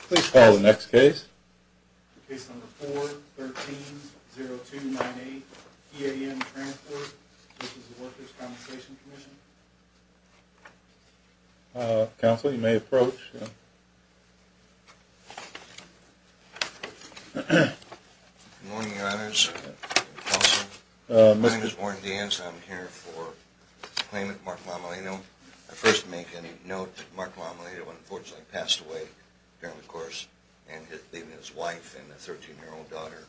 Please call the next case. Case number 4-13-0298, P.A.M. Transport v. Workers' Compensation Commission. Counsel, you may approach. Good morning, Your Honors. Counsel, my name is Warren Deans and I'm here for a claimant, Mark Lommelino. I'd first make a note that Mark Lommelino unfortunately passed away during the course, leaving his wife and a 13-year-old daughter,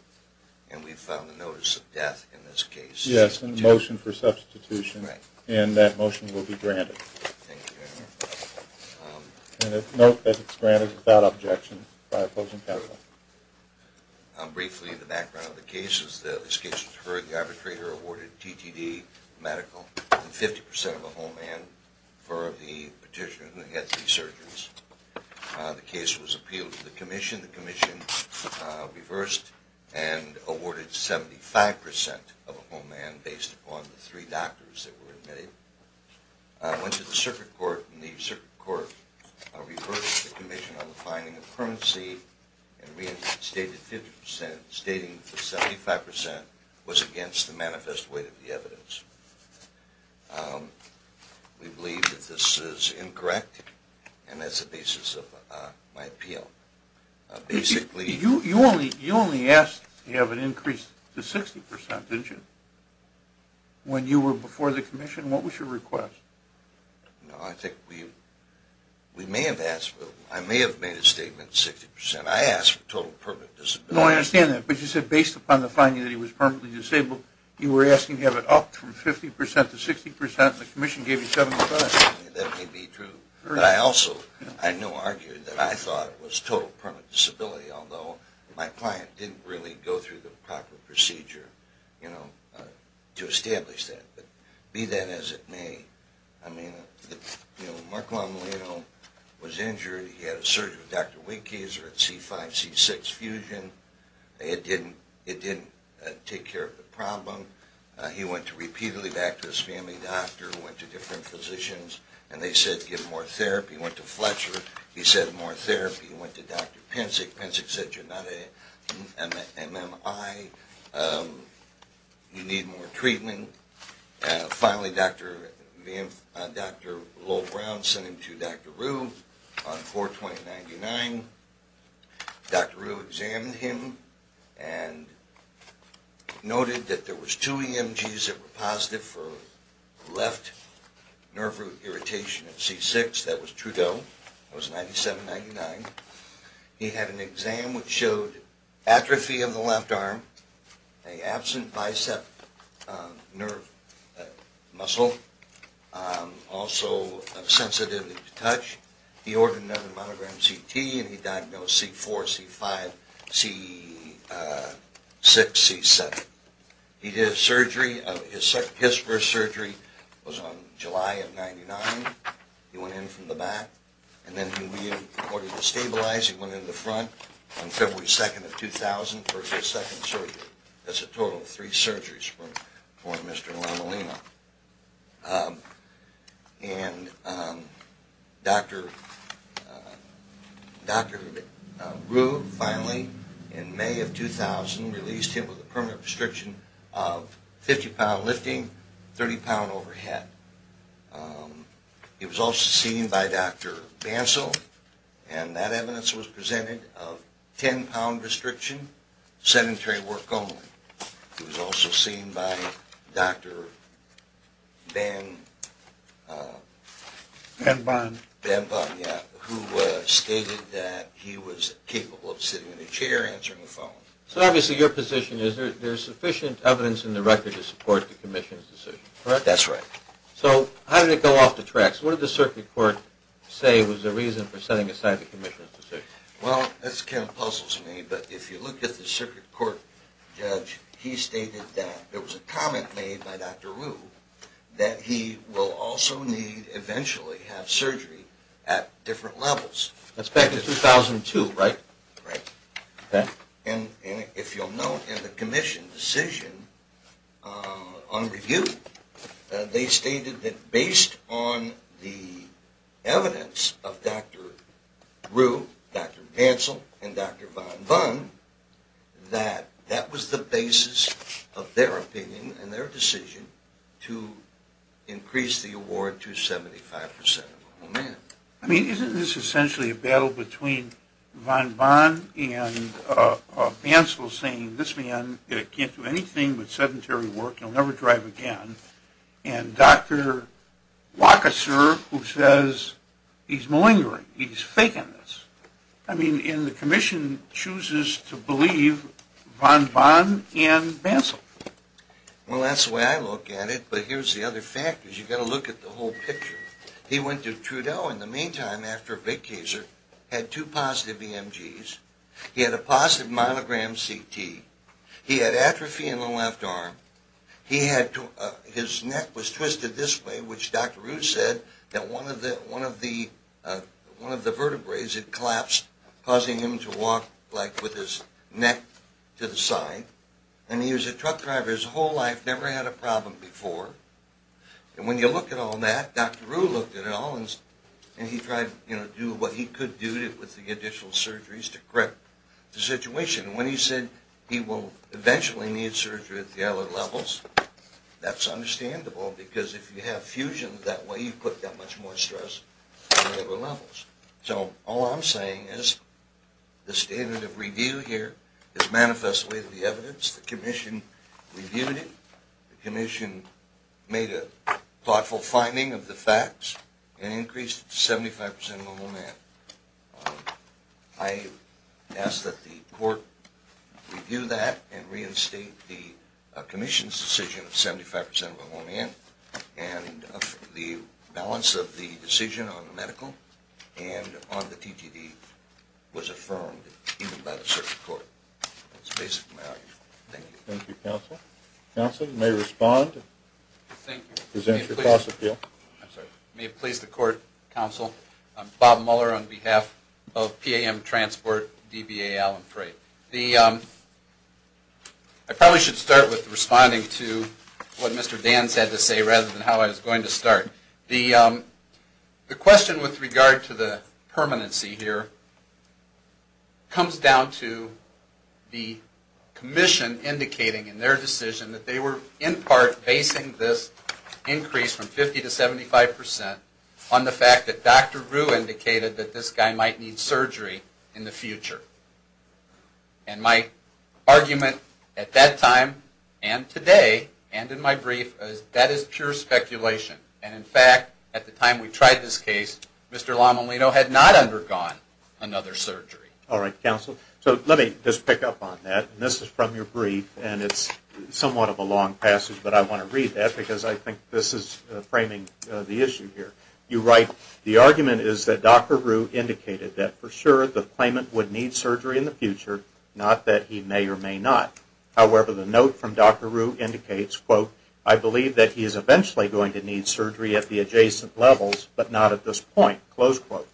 and we've filed a notice of death in this case. Yes, and a motion for substitution. Right. And that motion will be granted. Thank you, Your Honor. And note that it's granted without objection by opposing counsel. Briefly, the background of the case is that this case was heard. The arbitrator awarded TTD, medical, and 50% of a home and for the petitioner who had three surgeons. The case was appealed to the commission. The commission reversed and awarded 75% of a home and based upon the three doctors that were admitted. Went to the circuit court and the circuit court reversed the commission on the finding of currency and reinstated 50% stating that the 75% was against the manifest weight of the evidence. We believe that this is incorrect and that's the basis of my appeal. You only asked to have it increased to 60%, didn't you? When you were before the commission, what was your request? No, I think we may have asked for it. I may have made a statement 60%. I asked for total permanent disability. No, I understand that, but you said based upon the finding that he was permanently disabled, you were asking to have it upped from 50% to 60% and the commission gave you 75%. That may be true, but I also, I know, argued that I thought it was total permanent disability, although my client didn't really go through the proper procedure, you know, to establish that. But be that as it may, I mean, you know, Mark Longolino was injured. He had a surgery with Dr. Winkes or a C5-C6 fusion. It didn't take care of the problem. He went repeatedly back to his family doctor, went to different physicians, and they said give more therapy. He went to Fletcher. He said more therapy. He went to Dr. Pinchik. Pinchik said you're not an MMI. You need more treatment. Finally, Dr. Lowell Brown sent him to Dr. Rue on 4-20-99. Dr. Rue examined him and noted that there was two EMGs that were positive for left nerve root irritation at C6. That was Trudeau. It was 97-99. He had an exam which showed atrophy of the left arm, an absent bicep nerve muscle, also a sensitivity to touch. He ordered another monogrammed CT, and he diagnosed C4, C5, C6, C7. He did a surgery. His first surgery was on July of 99. He went in from the back, and then in order to stabilize, he went in the front on February 2nd of 2000 for his second surgery. That's a total of three surgeries for Mr. Lamalina. And Dr. Rue finally in May of 2000 released him with a permanent restriction of 50-pound lifting, 30-pound overhead. He was also seen by Dr. Bancel, and that evidence was presented of 10-pound restriction, sedentary work only. He was also seen by Dr. Banbon, who stated that he was capable of sitting in a chair, answering the phone. So obviously your position is there's sufficient evidence in the record to support the commission's decision, correct? That's right. So how did it go off the tracks? What did the circuit court say was the reason for setting aside the commission's decision? Well, this kind of puzzles me, but if you look at the circuit court judge, he stated that there was a comment made by Dr. Rue that he will also need eventually have surgery at different levels. That's back in 2002, right? Right. Okay. And if you'll note in the commission's decision on review, they stated that based on the evidence of Dr. Rue, Dr. Bancel, and Dr. Banbon, that that was the basis of their opinion and their decision to increase the award to 75% of all men. I mean, isn't this essentially a battle between Banbon and Bancel saying this man can't do anything but sedentary work, he'll never drive again, and Dr. Wachaser who says he's malingering, he's fake on this. I mean, and the commission chooses to believe Banbon and Bancel. Well, that's the way I look at it, but here's the other fact. You've got to look at the whole picture. He went to Trudeau in the meantime after Wachaser had two positive EMGs. He had a positive monogram CT. He had atrophy in the left arm. His neck was twisted this way, which Dr. Rue said that one of the vertebrae had collapsed, causing him to walk like with his neck to the side. And he was a truck driver his whole life, never had a problem before. And when you look at all that, Dr. Rue looked at it all and he tried, you know, to do what he could do with the additional surgeries to correct the situation. When he said he will eventually need surgery at the other levels, that's understandable because if you have fusion that way, you put that much more stress on the other levels. So all I'm saying is the standard of review here is manifest with the evidence. Once the commission reviewed it, the commission made a thoughtful finding of the facts and increased it to 75 percent of a woman. I ask that the court review that and reinstate the commission's decision of 75 percent of a woman and the balance of the decision on the medical and on the TTD was affirmed even by the circuit court. That's basically my argument. Thank you. Thank you, counsel. Counsel, you may respond and present your cost appeal. May it please the court, counsel. I'm Bob Muller on behalf of PAM Transport, DBA, Allen Freight. I probably should start with responding to what Mr. Dan said to say rather than how I was going to start. The question with regard to the permanency here comes down to the commission indicating in their decision that they were in part basing this increase from 50 to 75 percent on the fact that Dr. Rue indicated that this guy might need surgery in the future. And my argument at that time and today and in my brief is that is pure speculation. And in fact, at the time we tried this case, Mr. Lamolino had not undergone another surgery. All right, counsel. So let me just pick up on that. And this is from your brief and it's somewhat of a long passage, but I want to read that because I think this is framing the issue here. You write, the argument is that Dr. Rue indicated that for sure the claimant would need surgery in the future, not that he may or may not. However, the note from Dr. Rue indicates, quote, I believe that he is eventually going to need surgery at the adjacent levels, but not at this point, close quote.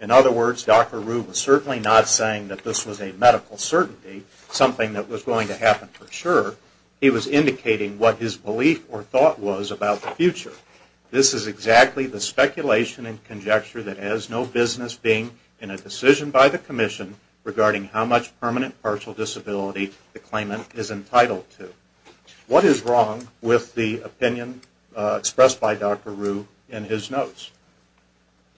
In other words, Dr. Rue was certainly not saying that this was a medical certainty, something that was going to happen for sure. He was indicating what his belief or thought was about the future. This is exactly the speculation and conjecture that has no business being in a decision by the commission regarding how much permanent partial disability the claimant is entitled to. What is wrong with the opinion expressed by Dr. Rue in his notes?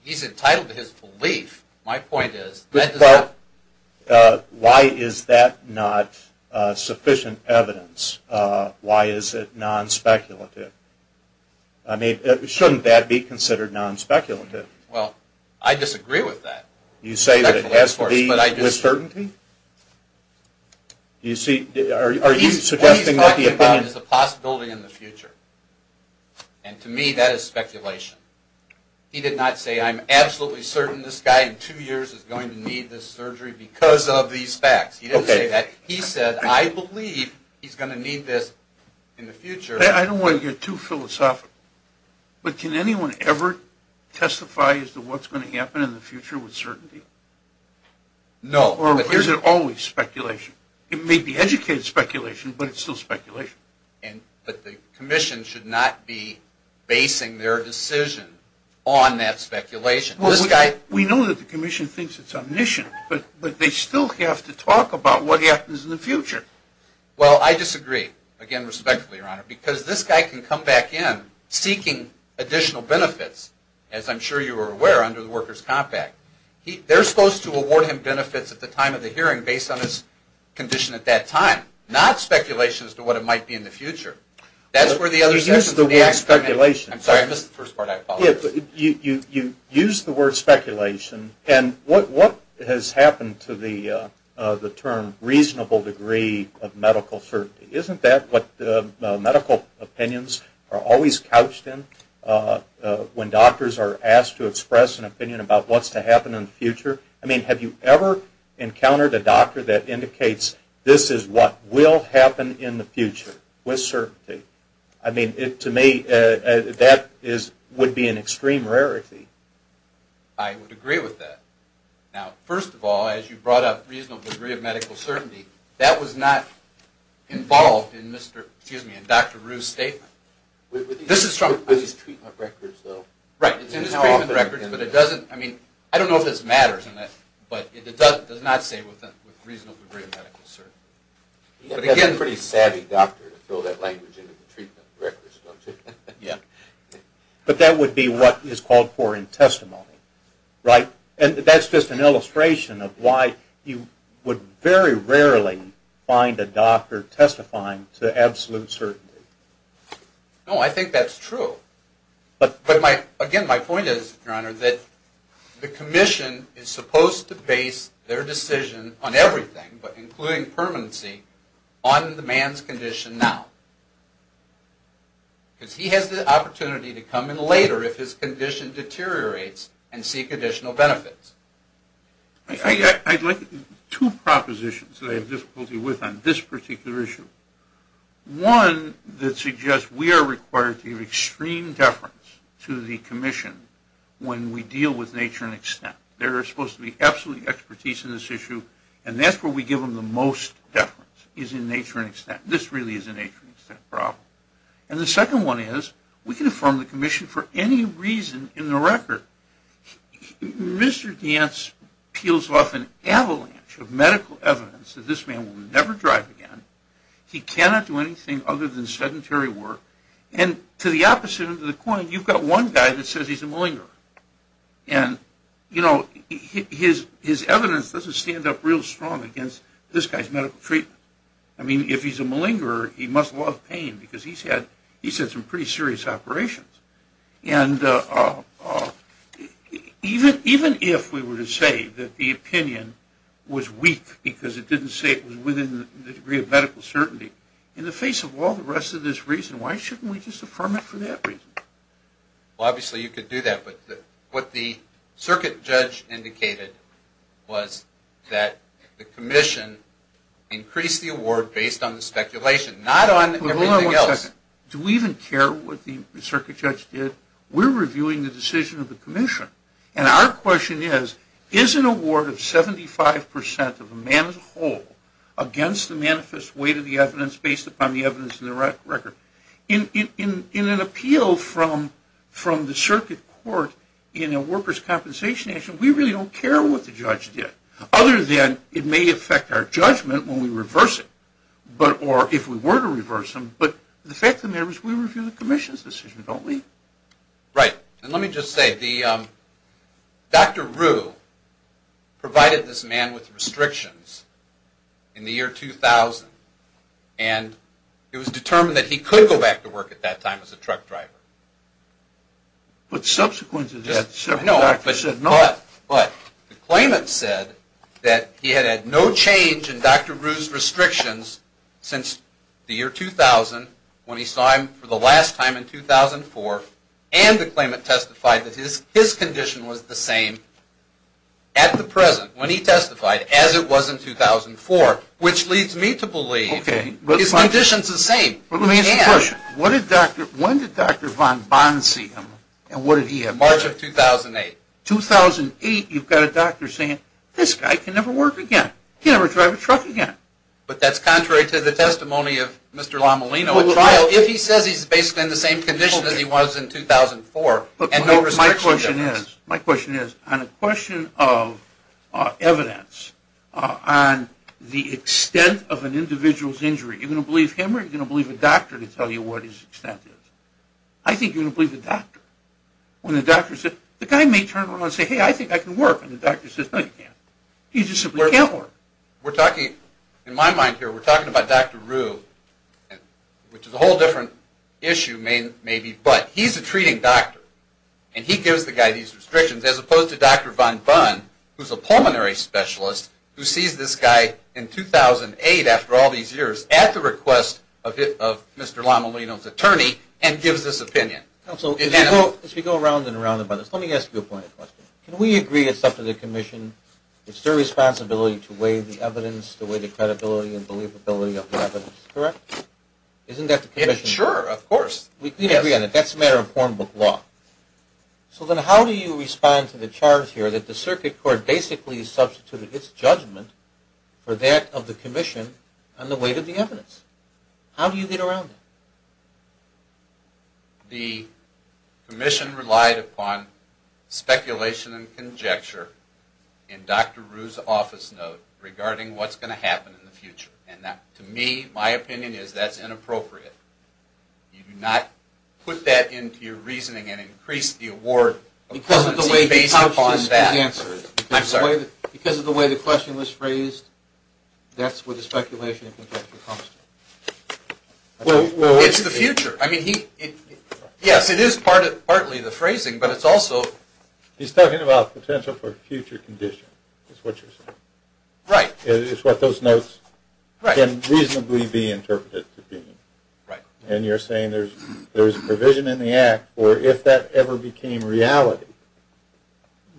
He's entitled to his belief. My point is that does not... I mean, shouldn't that be considered non-speculative? Well, I disagree with that. You say that it has to be with certainty? Are you suggesting that the opinion... What he's talking about is the possibility in the future, and to me that is speculation. He did not say I'm absolutely certain this guy in two years is going to need this surgery because of these facts. He didn't say that. He said I believe he's going to need this in the future. I don't want to get too philosophical, but can anyone ever testify as to what's going to happen in the future with certainty? No. Or is it always speculation? It may be educated speculation, but it's still speculation. But the commission should not be basing their decision on that speculation. We know that the commission thinks it's omniscient, but they still have to talk about what happens in the future. Well, I disagree, again, respectfully, Your Honor, because this guy can come back in seeking additional benefits, as I'm sure you are aware, under the workers' compact. They're supposed to award him benefits at the time of the hearing based on his condition at that time, not speculation as to what it might be in the future. That's where the other... You used the word speculation. I'm sorry, I missed the first part, I apologize. You used the word speculation, and what has happened to the term reasonable degree of medical certainty? Isn't that what medical opinions are always couched in when doctors are asked to express an opinion about what's to happen in the future? I mean, have you ever encountered a doctor that indicates this is what will happen in the future with certainty? I mean, to me, that would be an extreme rarity. I would agree with that. Now, first of all, as you brought up reasonable degree of medical certainty, that was not involved in Dr. Rue's statement. This is from... With his treatment records, though. Right, it's in his treatment records, but it doesn't... I mean, I don't know if this matters or not, but it does not say reasonable degree of medical certainty. He's a pretty savvy doctor to throw that language into the treatment records, don't you? Yeah. But that would be what is called foreign testimony, right? And that's just an illustration of why you would very rarely find a doctor testifying to absolute certainty. No, I think that's true. But again, my point is, Your Honor, that the commission is supposed to base their decision on everything, but including permanency, on the man's condition now. Because he has the opportunity to come in later if his condition deteriorates and seek additional benefits. I'd like two propositions that I have difficulty with on this particular issue. One that suggests we are required to give extreme deference to the commission when we deal with nature and extent. There is supposed to be absolute expertise in this issue, and that's where we give them the most deference, is in nature and extent. This really is a nature and extent problem. And the second one is, we can affirm the commission for any reason in the record. Mr. Gantz peels off an avalanche of medical evidence that this man will never drive again, he cannot do anything other than sedentary work, and to the opposite end of the coin, you've got one guy that says he's a millinger. And, you know, his evidence doesn't stand up real strong against this guy's medical treatment. I mean, if he's a millinger, he must love pain, because he's had some pretty serious operations. And even if we were to say that the opinion was weak, because it didn't say it was within the degree of medical certainty, in the face of all the rest of this reason, why shouldn't we just affirm it for that reason? Well, obviously you could do that, but what the circuit judge indicated was that the commission increased the award based on the speculation, not on everything else. Hold on one second. Do we even care what the circuit judge did? We're reviewing the decision of the commission, and our question is, is an award of 75 percent of a man as a whole against the manifest weight of the evidence based upon the evidence in the record? In an appeal from the circuit court in a workers' compensation action, we really don't care what the judge did, other than it may affect our judgment when we reverse it, or if we were to reverse them. But the fact of the matter is we review the commission's decision, don't we? Right. And let me just say, Dr. Rue provided this man with restrictions in the year 2000, and it was determined that he could go back to work at that time as a truck driver. But subsequent to that, the circuit doctor said no. But the claimant said that he had had no change in Dr. Rue's restrictions since the year 2000, when he saw him for the last time in 2004, and the claimant testified that his condition was the same at the present, when he testified, as it was in 2004, which leads me to believe his condition is the same. Let me ask you a question. When did Dr. von Bonn see him, and what did he have? March of 2008. 2008, you've got a doctor saying, this guy can never work again. He'll never drive a truck again. But that's contrary to the testimony of Mr. Lommelino. If he says he's basically in the same condition as he was in 2004, My question is, on a question of evidence, on the extent of an individual's injury, are you going to believe him or are you going to believe a doctor to tell you what his extent is? I think you're going to believe the doctor. When the doctor says, the guy may turn around and say, hey, I think I can work, and the doctor says, no, you can't. He just simply can't work. We're talking, in my mind here, we're talking about Dr. Rue, which is a whole different issue, maybe. But he's a treating doctor, and he gives the guy these restrictions, as opposed to Dr. von Bonn, who's a pulmonary specialist, who sees this guy in 2008, after all these years, at the request of Mr. Lommelino's attorney and gives this opinion. Counsel, as we go around and around about this, let me ask you a point of question. Can we agree it's up to the commission? It's their responsibility to weigh the evidence, to weigh the credibility and believability of the evidence, correct? Isn't that the commission? Sure, of course. We can agree on it. That's a matter of form book law. So then how do you respond to the charge here that the circuit court basically substituted its judgment for that of the commission on the weight of the evidence? How do you get around that? The commission relied upon speculation and conjecture in Dr. Rue's office note regarding what's going to happen in the future. And to me, my opinion is that's inappropriate. You do not put that into your reasoning and increase the award of competency based upon that. Because of the way the question was phrased, that's where the speculation and conjecture comes from. It's the future. I mean, yes, it is partly the phrasing, but it's also... He's talking about potential for future condition, is what you're saying. Right. It's what those notes can reasonably be interpreted to be. Right. And you're saying there's a provision in the act, or if that ever became reality,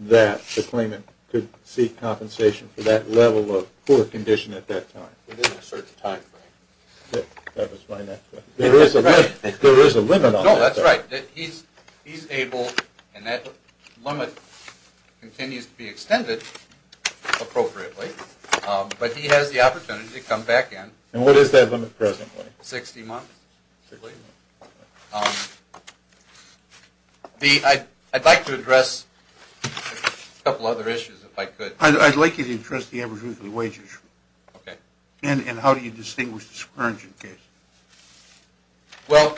that the claimant could seek compensation for that level of poor condition at that time. Within a certain timeframe. That was my next question. There is a limit on that. No, that's right. He's able, and that limit continues to be extended appropriately, but he has the opportunity to come back in. And what is that limit presently? 60 months. I'd like to address a couple other issues if I could. I'd like you to address the average weekly wage issue. Okay. And how do you distinguish the scourging case? Well,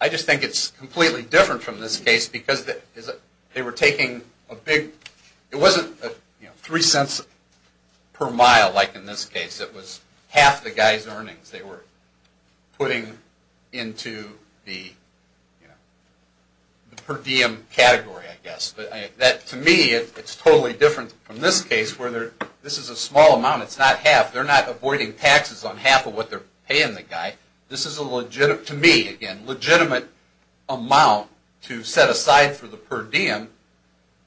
I just think it's completely different from this case, because they were taking a big... It wasn't three cents per mile, like in this case. It was half the guy's earnings they were putting into the per diem category, I guess. To me, it's totally different from this case, where this is a small amount. It's not half. They're not avoiding taxes on half of what they're paying the guy. This is, to me, again, a legitimate amount to set aside for the per diem.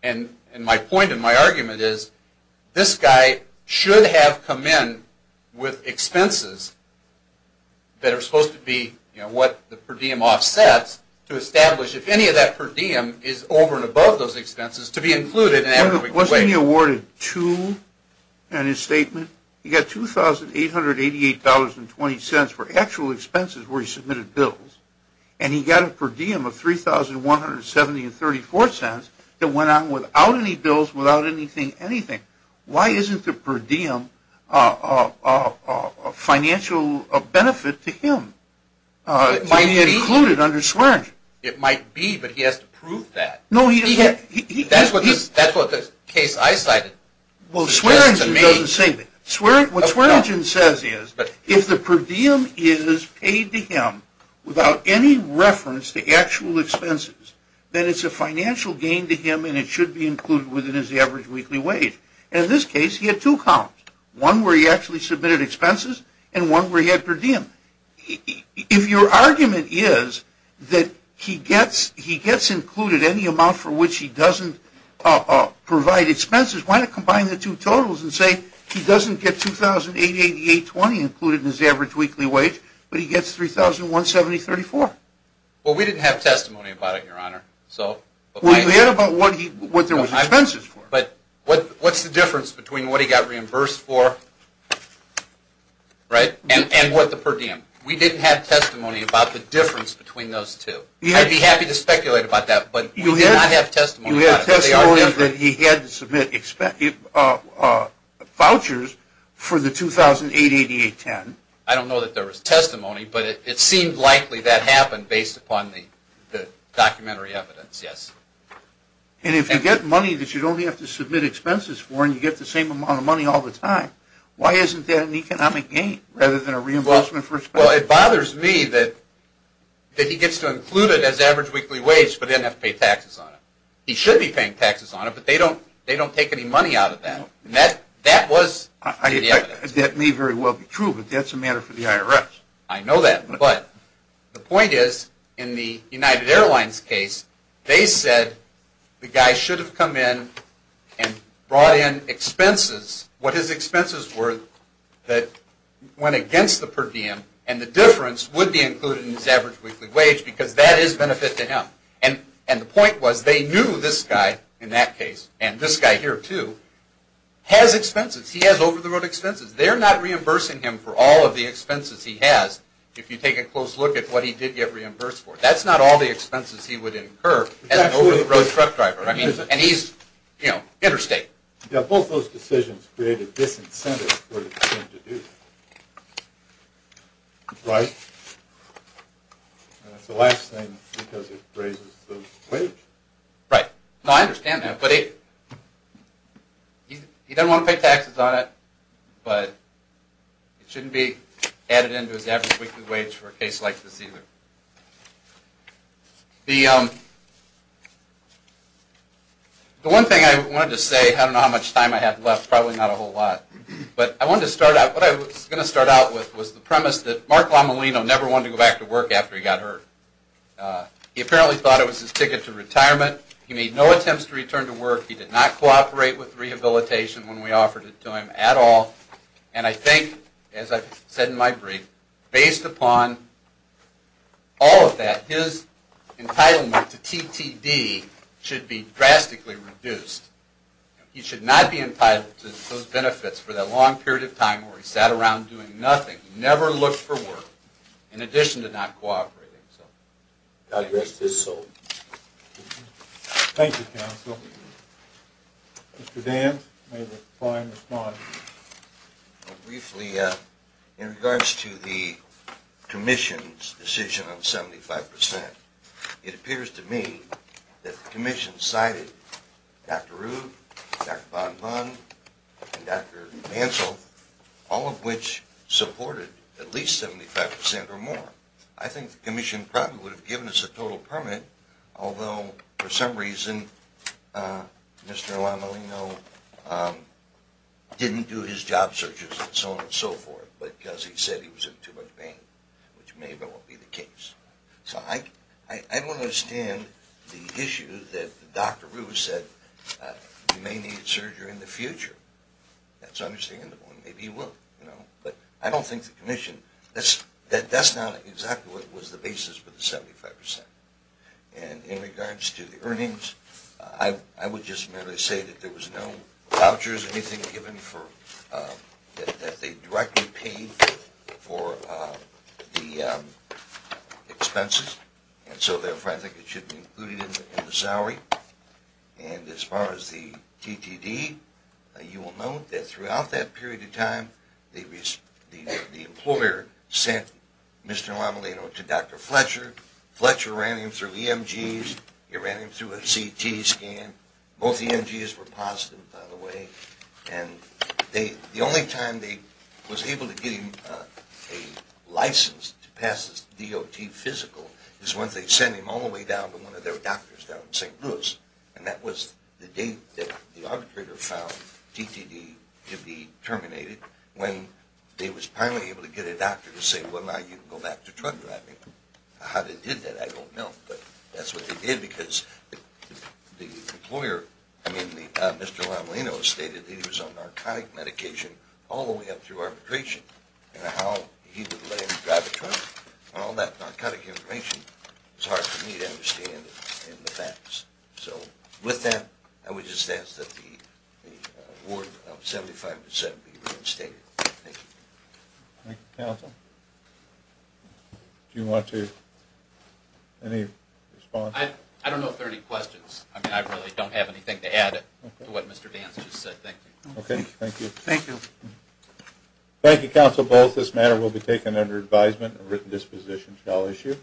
And my point and my argument is this guy should have come in with expenses that are supposed to be what the per diem offsets to establish, if any of that per diem is over and above those expenses, to be included. Wasn't he awarded two in his statement? He got $2,888.20 for actual expenses where he submitted bills, and he got a per diem of $3,170.34 that went on without any bills, without anything, anything. Why isn't the per diem a financial benefit to him? It might be included under swearing. It might be, but he has to prove that. That's what the case I cited. Well, Swearingen doesn't say that. What Swearingen says is if the per diem is paid to him without any reference to actual expenses, then it's a financial gain to him and it should be included within his average weekly wage. In this case, he had two counts, one where he actually submitted expenses and one where he had per diem. If your argument is that he gets included any amount for which he doesn't provide expenses, why not combine the two totals and say he doesn't get $2,888.20 included in his average weekly wage, but he gets $3,170.34? Well, we didn't have testimony about it, Your Honor. Well, you did about what there was expenses for. But what's the difference between what he got reimbursed for and what the per diem? We didn't have testimony about the difference between those two. I'd be happy to speculate about that, but we did not have testimony about it. You had testimony that he had to submit vouchers for the $2,888.10. I don't know that there was testimony, but it seemed likely that happened based upon the documentary evidence, yes. And if you get money that you only have to submit expenses for and you get the same amount of money all the time, why isn't that an economic gain rather than a reimbursement for expenses? Well, it bothers me that he gets to include it as average weekly wage but then have to pay taxes on it. He should be paying taxes on it, but they don't take any money out of that. And that was the evidence. That may very well be true, but that's a matter for the IRS. I know that, but the point is in the United Airlines case, they said the guy should have come in and brought in expenses, what his expenses were that went against the per diem, and the difference would be included in his average weekly wage because that is benefit to him. And the point was they knew this guy, in that case, and this guy here too, has expenses. He has over-the-road expenses. They're not reimbursing him for all of the expenses he has if you take a close look at what he did get reimbursed for. That's not all the expenses he would incur as an over-the-road truck driver, and he's interstate. Yeah, both those decisions created this incentive for him to do that. Right. And that's the last thing because it raises the wage. Right. No, I understand that, but he doesn't want to pay taxes on it, but it shouldn't be added into his average weekly wage for a case like this either. The one thing I wanted to say, I don't know how much time I have left, probably not a whole lot, but I wanted to start out, what I was going to start out with was the premise that Mark Lomolino never wanted to go back to work after he got hurt. He apparently thought it was his ticket to retirement. He made no attempts to return to work. He did not cooperate with rehabilitation when we offered it to him at all, and I think, as I've said in my brief, based upon all of that, his entitlement to TTD should be drastically reduced. He should not be entitled to those benefits for that long period of time where he sat around doing nothing, never looked for work, in addition to not cooperating. The rest is sold. Thank you, counsel. Mr. Dan, you have a fine response. Briefly, in regards to the commission's decision on 75%, it appears to me that the commission cited Dr. Rood, Dr. Bonbon, and Dr. Mansell, all of which supported at least 75% or more. I think the commission probably would have given us a total permit, although for some reason Mr. Lomolino didn't do his job searches and so on and so forth because he said he was in too much pain, which may well be the case. So I don't understand the issue that Dr. Rood said, you may need surgery in the future. That's understandable, and maybe he will. But I don't think the commission – that's not exactly what was the basis for the 75%. And in regards to the earnings, I would just merely say that there was no vouchers, anything given that they directly paid for the expenses, and so therefore I think it should be included in the salary. And as far as the TTD, you will note that throughout that period of time the employer sent Mr. Lomolino to Dr. Fletcher. Fletcher ran him through EMGs. He ran him through a CT scan. Both EMGs were positive, by the way. And the only time they was able to get him a license to pass the DOT physical is once they sent him all the way down to one of their doctors down in St. Louis, and that was the date that the arbitrator found TTD to be terminated when they was finally able to get a doctor to say, well, now you can go back to truck driving. How they did that I don't know, but that's what they did because the employer – I mean, Mr. Lomolino stated he was on narcotic medication all the way up through arbitration, and how he would let him drive a truck. All that narcotic information is hard for me to understand in the facts. So with that, I would just ask that the award of 75% be reinstated. Thank you. Thank you, counsel. Do you want to – any response? I don't know if there are any questions. I mean, I really don't have anything to add to what Mr. Vance just said. Thank you. Okay, thank you. Thank you. Thank you, counsel. Both this matter will be taken under advisement. A written disposition shall issue.